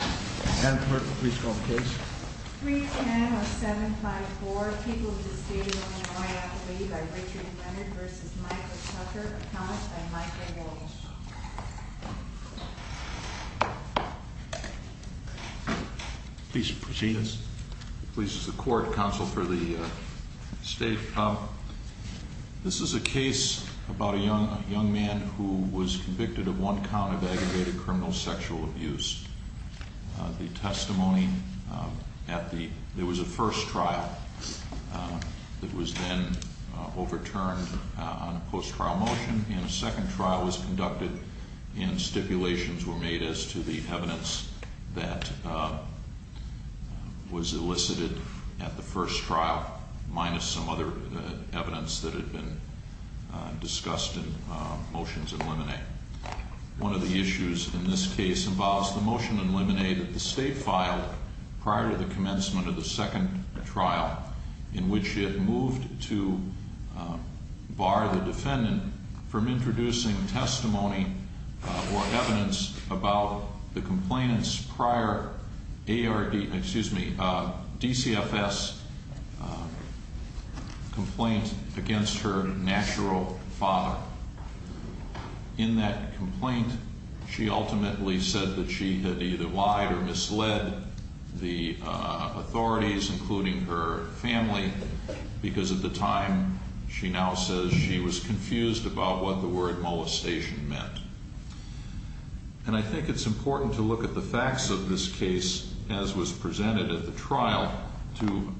310-0754, People of the State of Illinois Acclaimed by Richard Leonard v. Michael Tucker Accompanied by Michael Walsh Please proceed. This is a court counsel for the state. This is a case about a young man who was convicted of one count of aggravated criminal sexual abuse. The testimony at the, there was a first trial that was then overturned on a post-trial motion. And a second trial was conducted and stipulations were made as to the evidence that was elicited at the first trial, minus some other evidence that had been discussed in motions in limine. One of the issues in this case involves the motion in limine that the state filed prior to the commencement of the second trial in which it moved to bar the defendant from introducing testimony or evidence about the complainant's prior ARD, excuse me, DCFS complaint against her natural father. In that complaint, she ultimately said that she had either lied or misled the authorities, including her family, because at the time, she now says she was confused about what the word molestation meant. And I think it's important to look at the facts of this case as was presented at the trial to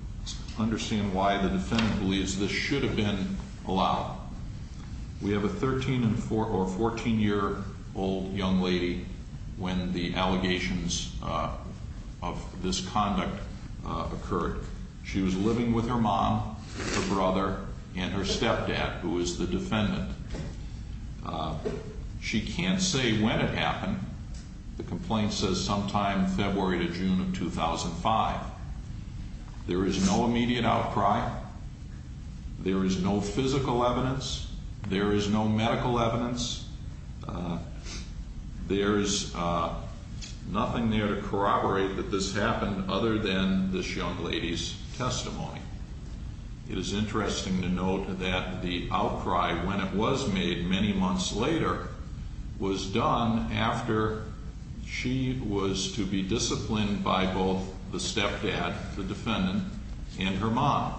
understand why the defendant believes this should have been allowed. We have a 13 or 14-year-old young lady when the allegations of this conduct occurred. She was living with her mom, her brother, and her stepdad, who is the defendant. She can't say when it happened. The complaint says sometime February to June of 2005. There is no immediate outcry. There is no physical evidence. There is no medical evidence. There is nothing there to corroborate that this happened other than this young lady's testimony. It is interesting to note that the outcry, when it was made many months later, was done after she was to be disciplined by both the stepdad, the defendant, and her mom.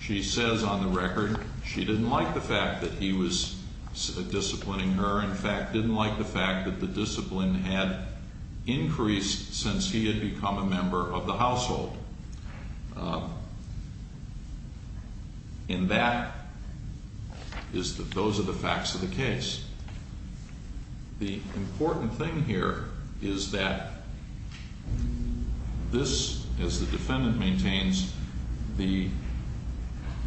She says on the record she didn't like the fact that he was disciplining her. In fact, didn't like the fact that the discipline had increased since he had become a member of the household. And that is that those are the facts of the case. The important thing here is that this, as the defendant maintains, the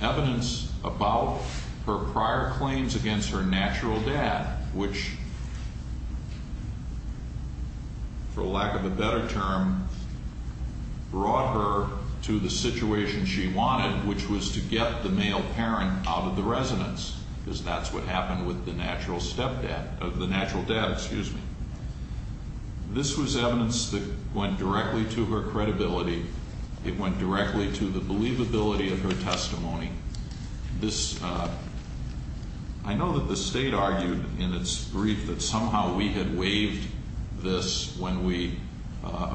evidence about her prior claims against her natural dad, which, for lack of a better term, brought her to the situation she wanted, which was to get the male parent out of the residence, because that's what happened with the natural stepdad, the natural dad, excuse me. This was evidence that went directly to her credibility. It went directly to the believability of her testimony. This, I know that the state argued in its brief that somehow we had waived this when we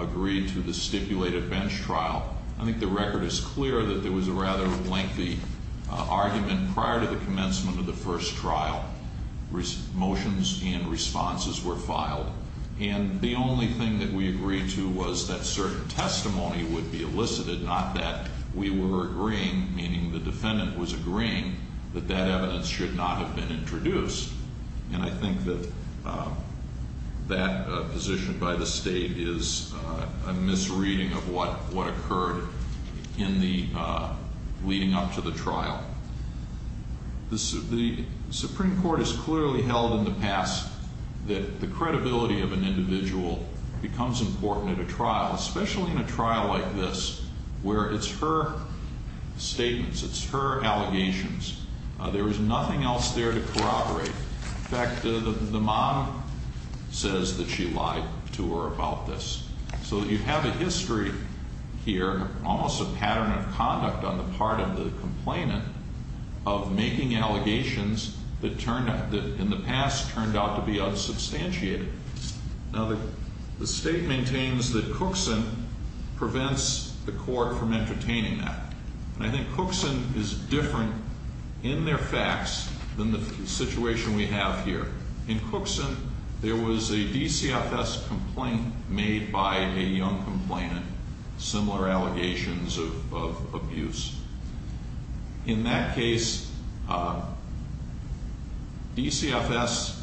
agreed to the stipulated bench trial. I think the record is clear that there was a rather lengthy argument prior to the commencement of the first trial. Motions and responses were filed. And the only thing that we agreed to was that certain testimony would be elicited, not that we were agreeing, meaning the defendant was agreeing, that that evidence should not have been introduced. And I think that that position by the state is a misreading of what occurred in the leading up to the trial. The Supreme Court has clearly held in the past that the credibility of an individual becomes important at a trial, especially in a trial like this, where it's her statements, it's her allegations. There is nothing else there to corroborate. In fact, the mom says that she lied to her about this. So you have a history here, almost a pattern of conduct on the part of the complainant, of making allegations that in the past turned out to be unsubstantiated. Now, the state maintains that Cookson prevents the court from entertaining that. And I think Cookson is different in their facts than the situation we have here. In Cookson, there was a DCFS complaint made by a young complainant, similar allegations of abuse. In that case, DCFS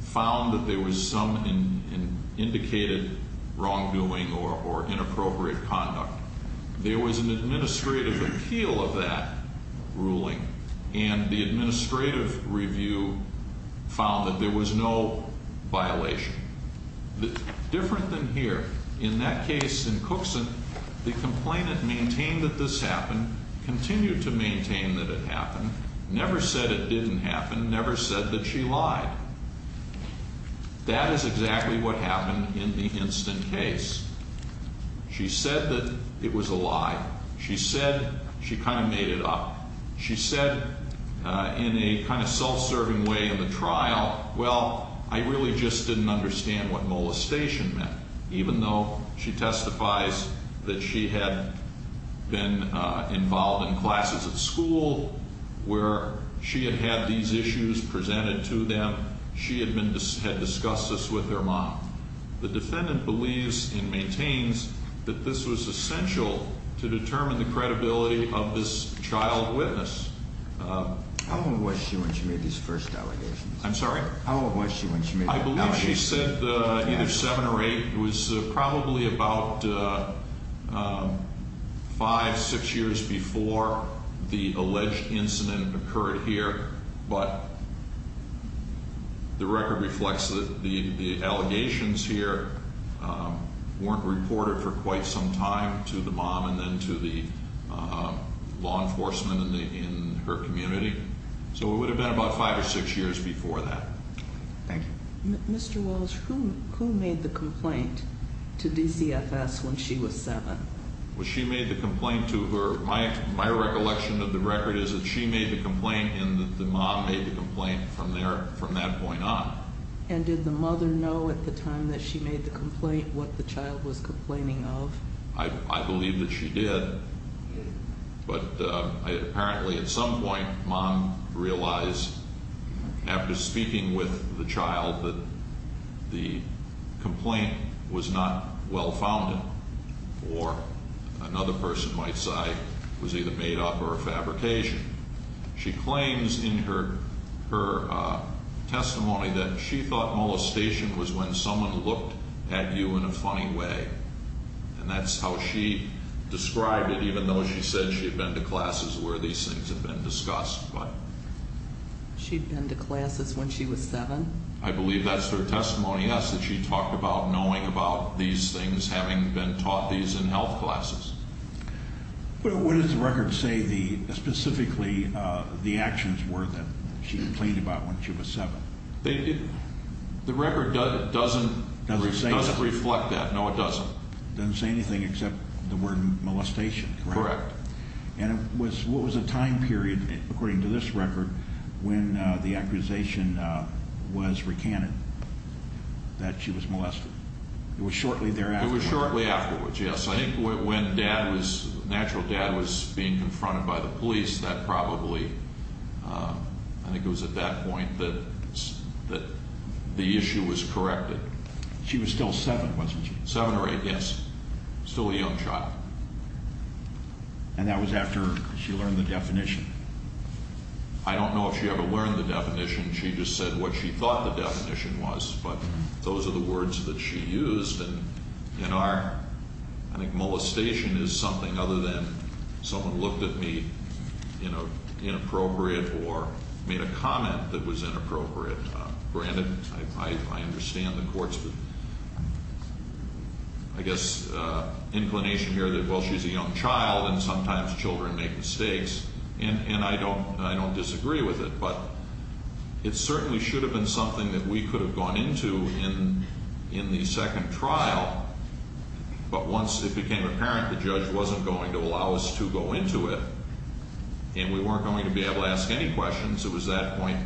found that there was some indicated wrongdoing or inappropriate conduct. There was an administrative appeal of that ruling, and the administrative review found that there was no violation. Different than here, in that case in Cookson, the complainant maintained that this happened, continued to maintain that it happened, never said it didn't happen, never said that she lied. That is exactly what happened in the Hinston case. She said that it was a lie. She said she kind of made it up. She said in a kind of self-serving way in the trial, well, I really just didn't understand what molestation meant, even though she testifies that she had been involved in classes at school where she had had these issues presented to them. She had discussed this with her mom. The defendant believes and maintains that this was essential to determine the credibility of this child witness. How old was she when she made these first allegations? I'm sorry? How old was she when she made the allegations? I believe she said either 7 or 8. It was probably about 5, 6 years before the alleged incident occurred here. But the record reflects that the allegations here weren't reported for quite some time to the mom and then to the law enforcement in her community. So it would have been about 5 or 6 years before that. Thank you. Mr. Walsh, who made the complaint to DCFS when she was 7? Well, she made the complaint to her. My recollection of the record is that she made the complaint and that the mom made the complaint from there, from that point on. And did the mother know at the time that she made the complaint what the child was complaining of? I believe that she did. But apparently at some point mom realized after speaking with the child that the complaint was not well founded or another person might say it was either made up or a fabrication. She claims in her testimony that she thought molestation was when someone looked at you in a funny way. And that's how she described it, even though she said she had been to classes where these things had been discussed. She'd been to classes when she was 7? I believe that's her testimony, yes, that she talked about knowing about these things, having been taught these in health classes. But what does the record say specifically the actions were that she complained about when she was 7? The record doesn't reflect that. No, it doesn't. It doesn't say anything except the word molestation, correct? Correct. And what was the time period, according to this record, when the accusation was recanted that she was molested? It was shortly thereafter. It was shortly afterwards, yes. I think when natural dad was being confronted by the police, that probably, I think it was at that point that the issue was corrected. She was still 7, wasn't she? 7 or 8, yes. Still a young child. And that was after she learned the definition? I don't know if she ever learned the definition. She just said what she thought the definition was. But those are the words that she used. And in our, I think molestation is something other than someone looked at me, you know, inappropriate or made a comment that was inappropriate. Granted, I understand the court's, I guess, inclination here that, well, she's a young child and sometimes children make mistakes. And I don't disagree with it. But it certainly should have been something that we could have gone into in the second trial. But once it became apparent the judge wasn't going to allow us to go into it and we weren't going to be able to ask any questions, it was at that point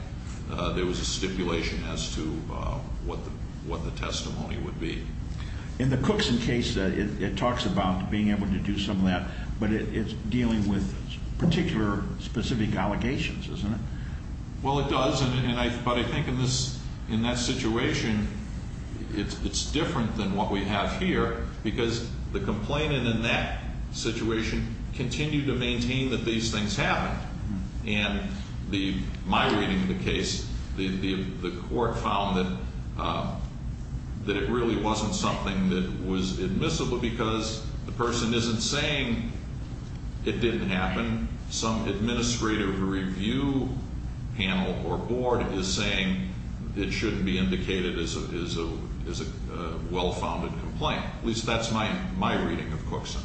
there was a stipulation as to what the testimony would be. In the Cookson case, it talks about being able to do some of that. But it's dealing with particular specific allegations, isn't it? Well, it does. But I think in that situation, it's different than what we have here because the complainant in that situation continued to maintain that these things happened. And my reading of the case, the court found that it really wasn't something that was admissible because the person isn't saying it didn't happen. Some administrative review panel or board is saying it shouldn't be indicated as a well-founded complaint. At least that's my reading of Cookson.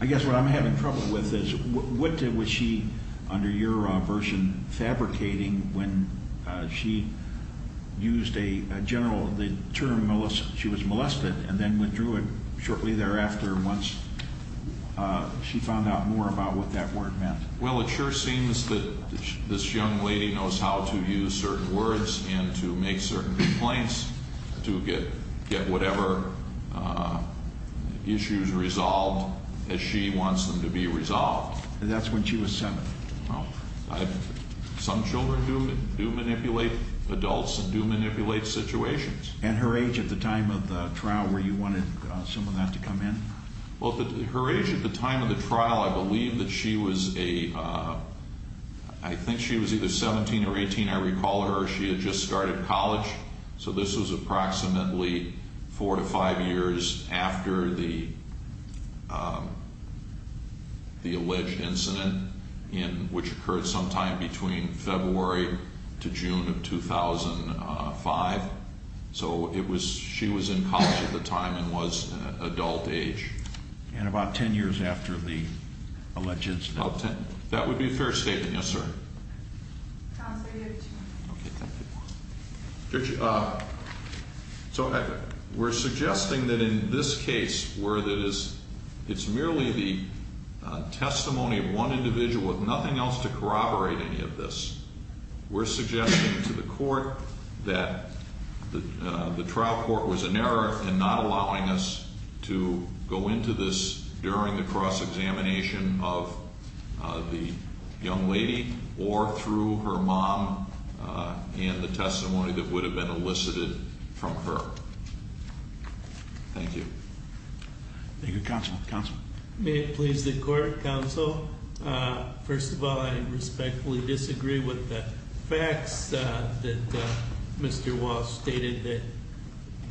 I guess what I'm having trouble with is what was she, under your version, fabricating when she used a general term, she was molested, and then withdrew it shortly thereafter once she found out more about what that word meant? Well, it sure seems that this young lady knows how to use certain words and to make certain complaints to get whatever issues resolved as she wants them to be resolved. That's when she was seven. Well, some children do manipulate adults and do manipulate situations. And her age at the time of the trial, were you wanting some of that to come in? Well, her age at the time of the trial, I believe that she was a, I think she was either 17 or 18. I recall her. She had just started college. So this was approximately four to five years after the alleged incident, which occurred sometime between February to June of 2005. So it was, she was in college at the time and was adult age. And about ten years after the alleged incident. About ten. That would be a fair statement. Yes, sir. Counsel, you have two minutes. Okay, thank you. Judge, so we're suggesting that in this case where it's merely the testimony of one individual with nothing else to corroborate any of this, we're suggesting to the court that the trial court was in error in not allowing us to go into this during the cross-examination of the young lady or through her mom and the testimony that would have been elicited from her. Thank you. Thank you, counsel. Counsel. May it please the court, counsel. First of all, I respectfully disagree with the facts that Mr. Walsh stated that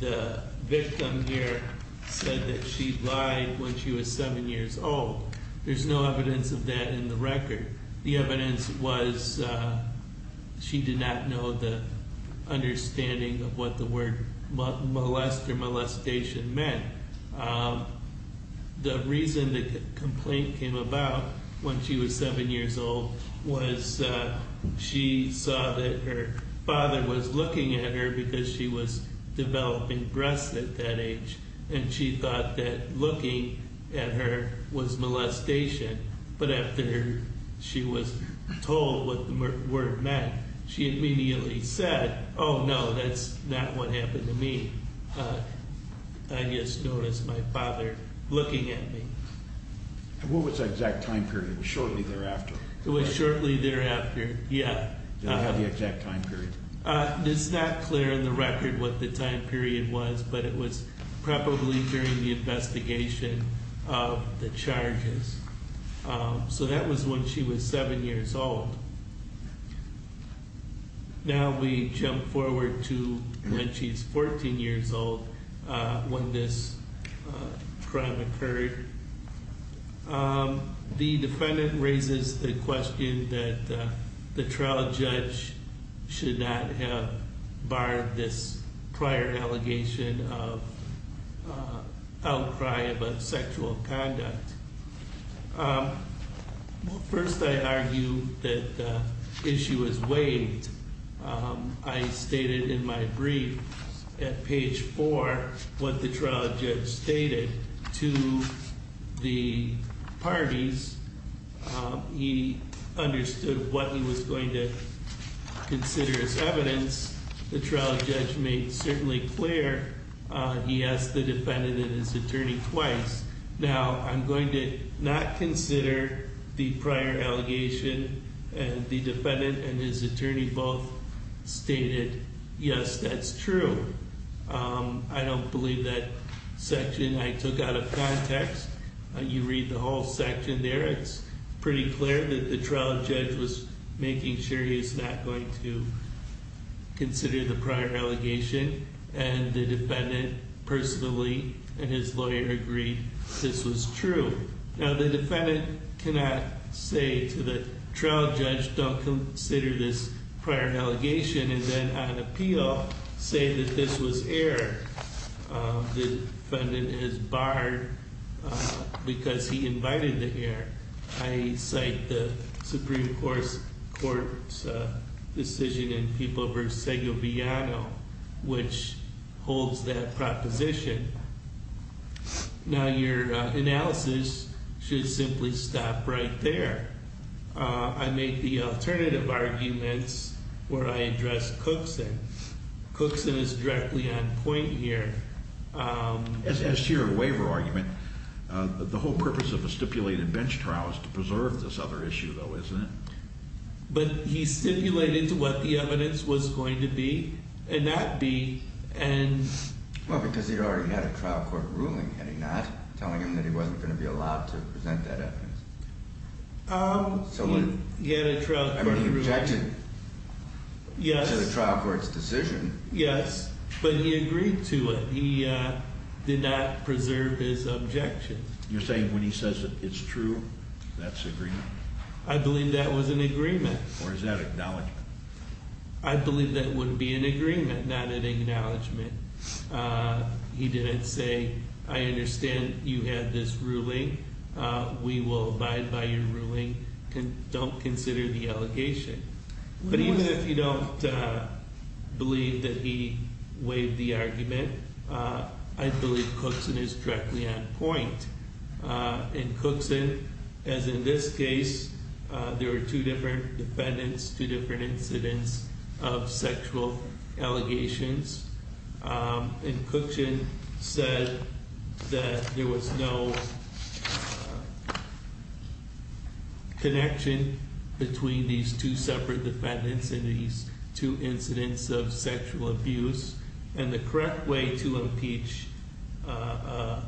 the victim here said that she lied when she was seven years old. There's no evidence of that in the record. The evidence was she did not know the understanding of what the word molest or molestation meant. The reason the complaint came about when she was seven years old was she saw that her father was looking at her because she was developing breasts at that age, and she thought that looking at her was molestation. But after she was told what the word meant, she immediately said, oh, no, that's not what happened to me. I just noticed my father looking at me. What was the exact time period? It was shortly thereafter. It was shortly thereafter. Yeah. Do you have the exact time period? It's not clear in the record what the time period was, but it was probably during the investigation of the charges. So that was when she was seven years old. Now we jump forward to when she was 14 years old when this crime occurred. The defendant raises the question that the trial judge should not have barred this prior allegation of outcry about sexual conduct. First, I argue that the issue is waived. I stated in my brief at page four what the trial judge stated to the parties. He understood what he was going to consider as evidence. The trial judge made certainly clear he asked the defendant and his attorney twice. Now, I'm going to not consider the prior allegation and the defendant and his attorney both stated, yes, that's true. I don't believe that section I took out of context. You read the whole section there. It's pretty clear that the trial judge was making sure he's not going to consider the prior allegation. And the defendant personally and his lawyer agreed this was true. Now, the defendant cannot say to the trial judge, don't consider this prior allegation. And then on appeal, say that this was error. The defendant is barred because he invited the error. I cite the Supreme Court's decision in People v. Segoviano, which holds that proposition. Now, your analysis should simply stop right there. I make the alternative arguments where I address Cookson. Cookson is directly on point here. As to your waiver argument, the whole purpose of a stipulated bench trial is to preserve this other issue, though, isn't it? But he stipulated to what the evidence was going to be, and that be and Well, because he already had a trial court ruling, had he not? Telling him that he wasn't going to be allowed to present that evidence. He had a trial court ruling. He rejected the trial court's decision. Yes, but he agreed to it. He did not preserve his objection. You're saying when he says it's true, that's agreement? I believe that was an agreement. Or is that acknowledgment? I believe that would be an agreement, not an acknowledgment. He didn't say, I understand you had this ruling. We will abide by your ruling. Don't consider the allegation. But even if you don't believe that he waived the argument, I believe Cookson is directly on point. And Cookson, as in this case, there were two different defendants, two different incidents of sexual allegations. And Cookson said that there was no connection between these two separate defendants and these two incidents of sexual abuse. And the correct way to impeach a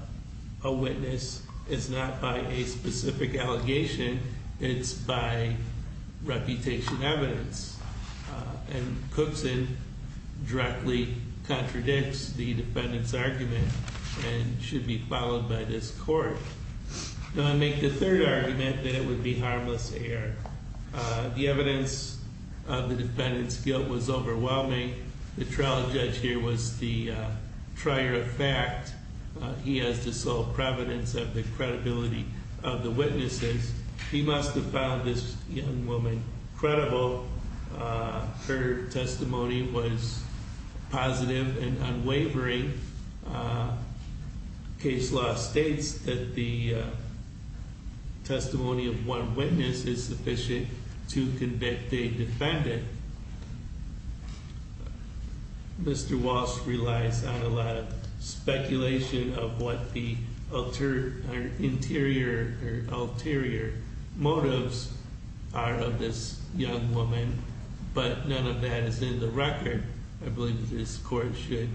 witness is not by a specific allegation. It's by reputation evidence. And Cookson directly contradicts the defendant's argument and should be followed by this court. Now, I make the third argument that it would be harmless error. The evidence of the defendant's guilt was overwhelming. The trial judge here was the trier of fact. He has the sole providence of the credibility of the witnesses. He must have found this young woman credible. Her testimony was positive and unwavering. Case law states that the testimony of one witness is sufficient to convict a defendant. Mr. Walsh relies on a lot of speculation of what the ulterior motives are of this young woman. But none of that is in the record. I believe this court should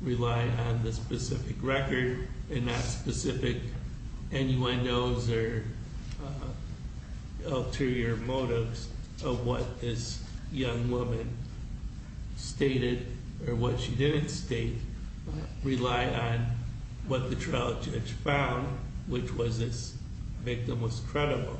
rely on the specific record and not specific anyone knows or ulterior motives of what this young woman stated or what she didn't state. Rely on what the trial judge found, which was this victim was credible.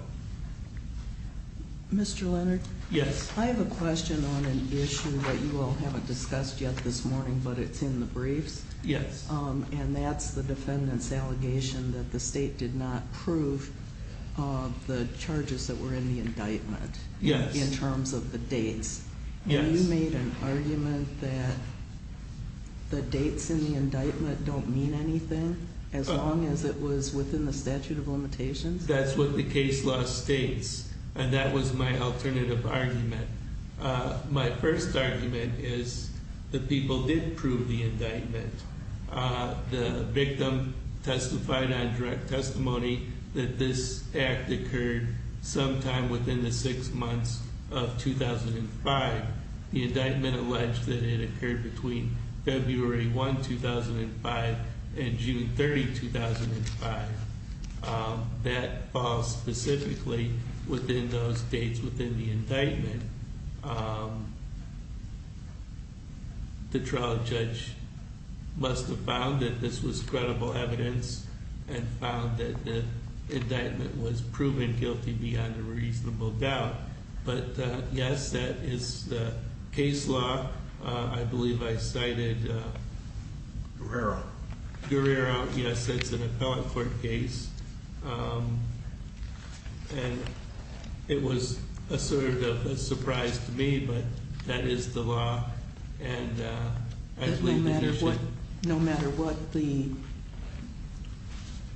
Mr. Leonard? Yes. I have a question on an issue that you all haven't discussed yet this morning, but it's in the briefs. Yes. And that's the defendant's allegation that the state did not prove the charges that were in the indictment. Yes. In terms of the dates. Yes. You made an argument that the dates in the indictment don't mean anything as long as it was within the statute of limitations? That's what the case law states. And that was my alternative argument. My first argument is the people did prove the indictment. The victim testified on direct testimony that this act occurred sometime within the six months of 2005. The indictment alleged that it occurred between February 1, 2005 and June 30, 2005. That falls specifically within those dates within the indictment. The trial judge must have found that this was credible evidence and found that the indictment was proven guilty beyond a reasonable doubt. But yes, that is the case law. I believe I cited- Guerrero. Guerrero. Yes, it's an appellate court case. And it was sort of a surprise to me, but that is the law. And I believe- No matter what the,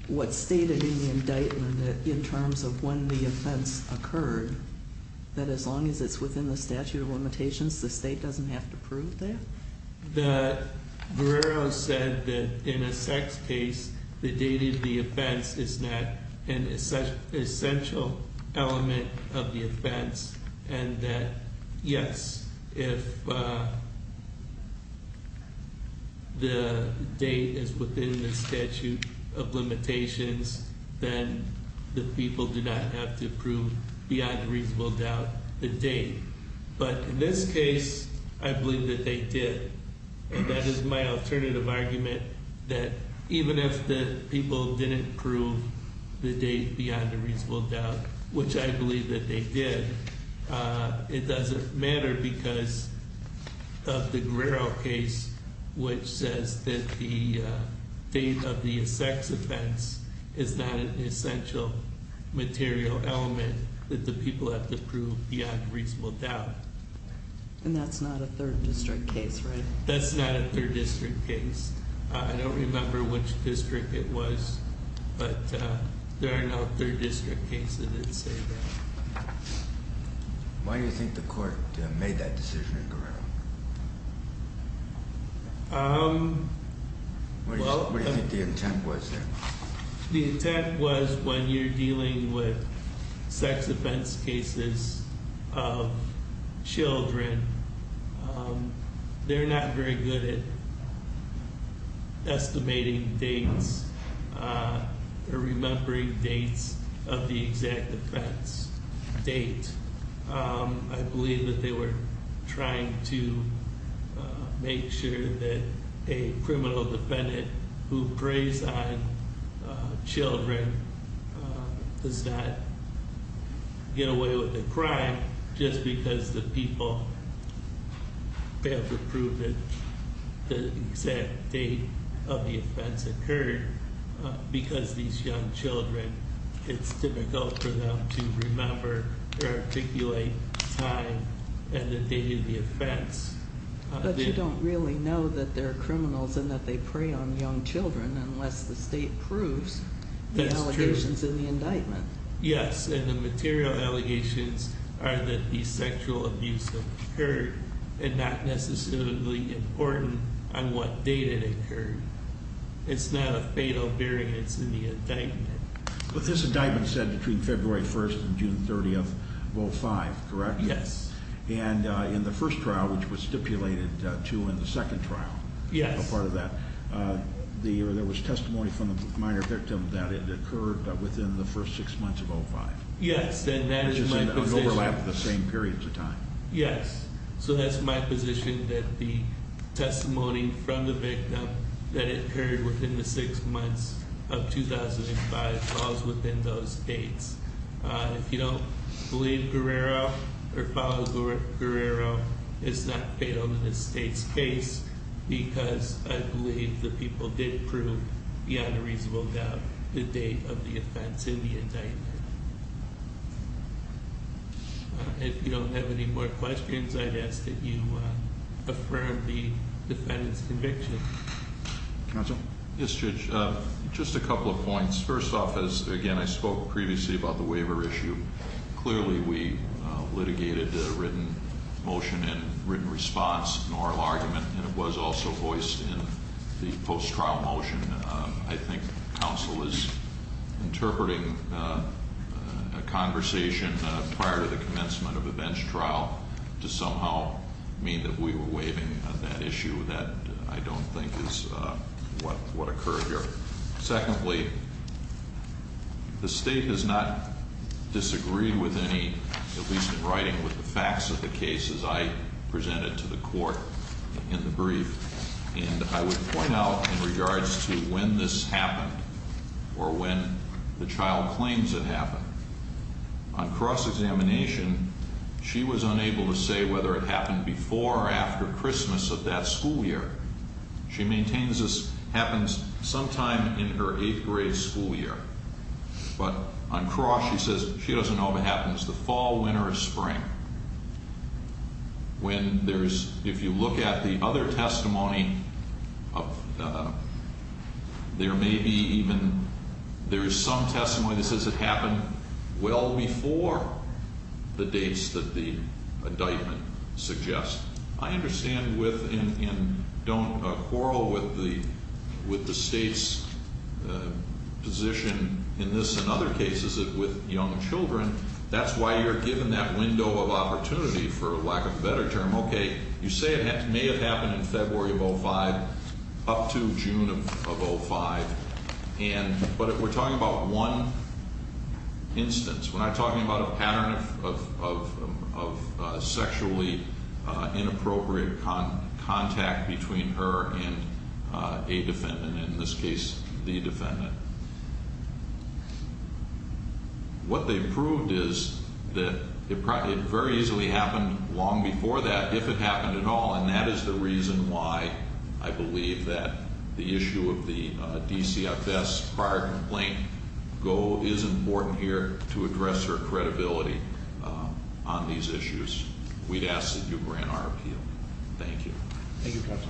what's stated in the indictment in terms of when the offense occurred, that as long as it's within the statute of limitations, the state doesn't have to prove that? Guerrero said that in a sex case, the date of the offense is not an essential element of the offense. And that, yes, if the date is within the statute of limitations, then the people do not have to prove beyond a reasonable doubt the date. But in this case, I believe that they did. And that is my alternative argument, that even if the people didn't prove the date beyond a reasonable doubt, which I believe that they did, it doesn't matter because of the Guerrero case, which says that the date of the sex offense is not an essential material element that the people have to prove beyond reasonable doubt. And that's not a third district case, right? That's not a third district case. I don't remember which district it was, but there are no third district cases that say that. Why do you think the court made that decision in Guerrero? What do you think the intent was there? The intent was when you're dealing with sex offense cases of children, they're not very good at estimating dates or remembering dates of the exact offense date. I believe that they were trying to make sure that a criminal defendant who preys on children does not get away with a crime just because the people have to prove that the exact date of the offense occurred. Because these young children, it's difficult for them to remember or articulate time and the date of the offense. But you don't really know that they're criminals and that they prey on young children unless the state proves the allegations in the indictment. Yes, and the material allegations are that the sexual abuse occurred and not necessarily important on what date it occurred. It's not a fatal variance in the indictment. But this indictment said between February 1st and June 30th of 05, correct? Yes. And in the first trial, which was stipulated to in the second trial- Yes. A part of that, there was testimony from the minor victim that it occurred within the first six months of 05. Yes, and that is my position. Which is an overlap of the same periods of time. Yes, so that's my position that the testimony from the victim that it occurred within the six months of 2005 falls within those dates. If you don't believe Guerrero or follow Guerrero, it's not fatal to the state's case because I believe the people did prove beyond a reasonable doubt the date of the offense in the indictment. If you don't have any more questions, I'd ask that you affirm the defendant's conviction. Counsel? Yes, Judge. Just a couple of points. First off, again, I spoke previously about the waiver issue. Clearly, we litigated a written motion and written response, an oral argument, and it was also voiced in the post-trial motion. I think counsel is interpreting a conversation prior to the commencement of a bench trial to somehow mean that we were waiving that issue that I don't think is what occurred here. Secondly, the state does not disagree with any, at least in writing, with the facts of the cases I presented to the court in the brief. And I would point out in regards to when this happened or when the child claims it happened, on cross-examination, she was unable to say whether it happened before or after Christmas of that school year. She maintains this happens sometime in her eighth grade school year. But on cross, she says she doesn't know if it happens the fall, winter, or spring. When there's, if you look at the other testimony, there may be even, there is some testimony that says it happened well before the dates that the indictment suggests. I understand with, and don't quarrel with the state's position in this and other cases with young children. That's why you're given that window of opportunity, for lack of a better term. Okay, you say it may have happened in February of 05, up to June of 05. And, but we're talking about one instance. We're not talking about a pattern of sexually inappropriate contact between her and a defendant. And in this case, the defendant. What they've proved is that it very easily happened long before that, if it happened at all. And that is the reason why I believe that the issue of the DCFS prior complaint goal is important here to address her credibility on these issues. We'd ask that you grant our appeal. Thank you, counsel.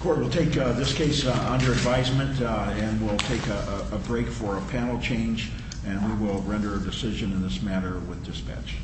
Court will take this case under advisement and we'll take a break for a panel change. And we will render a decision in this matter with dispatch. Thank you.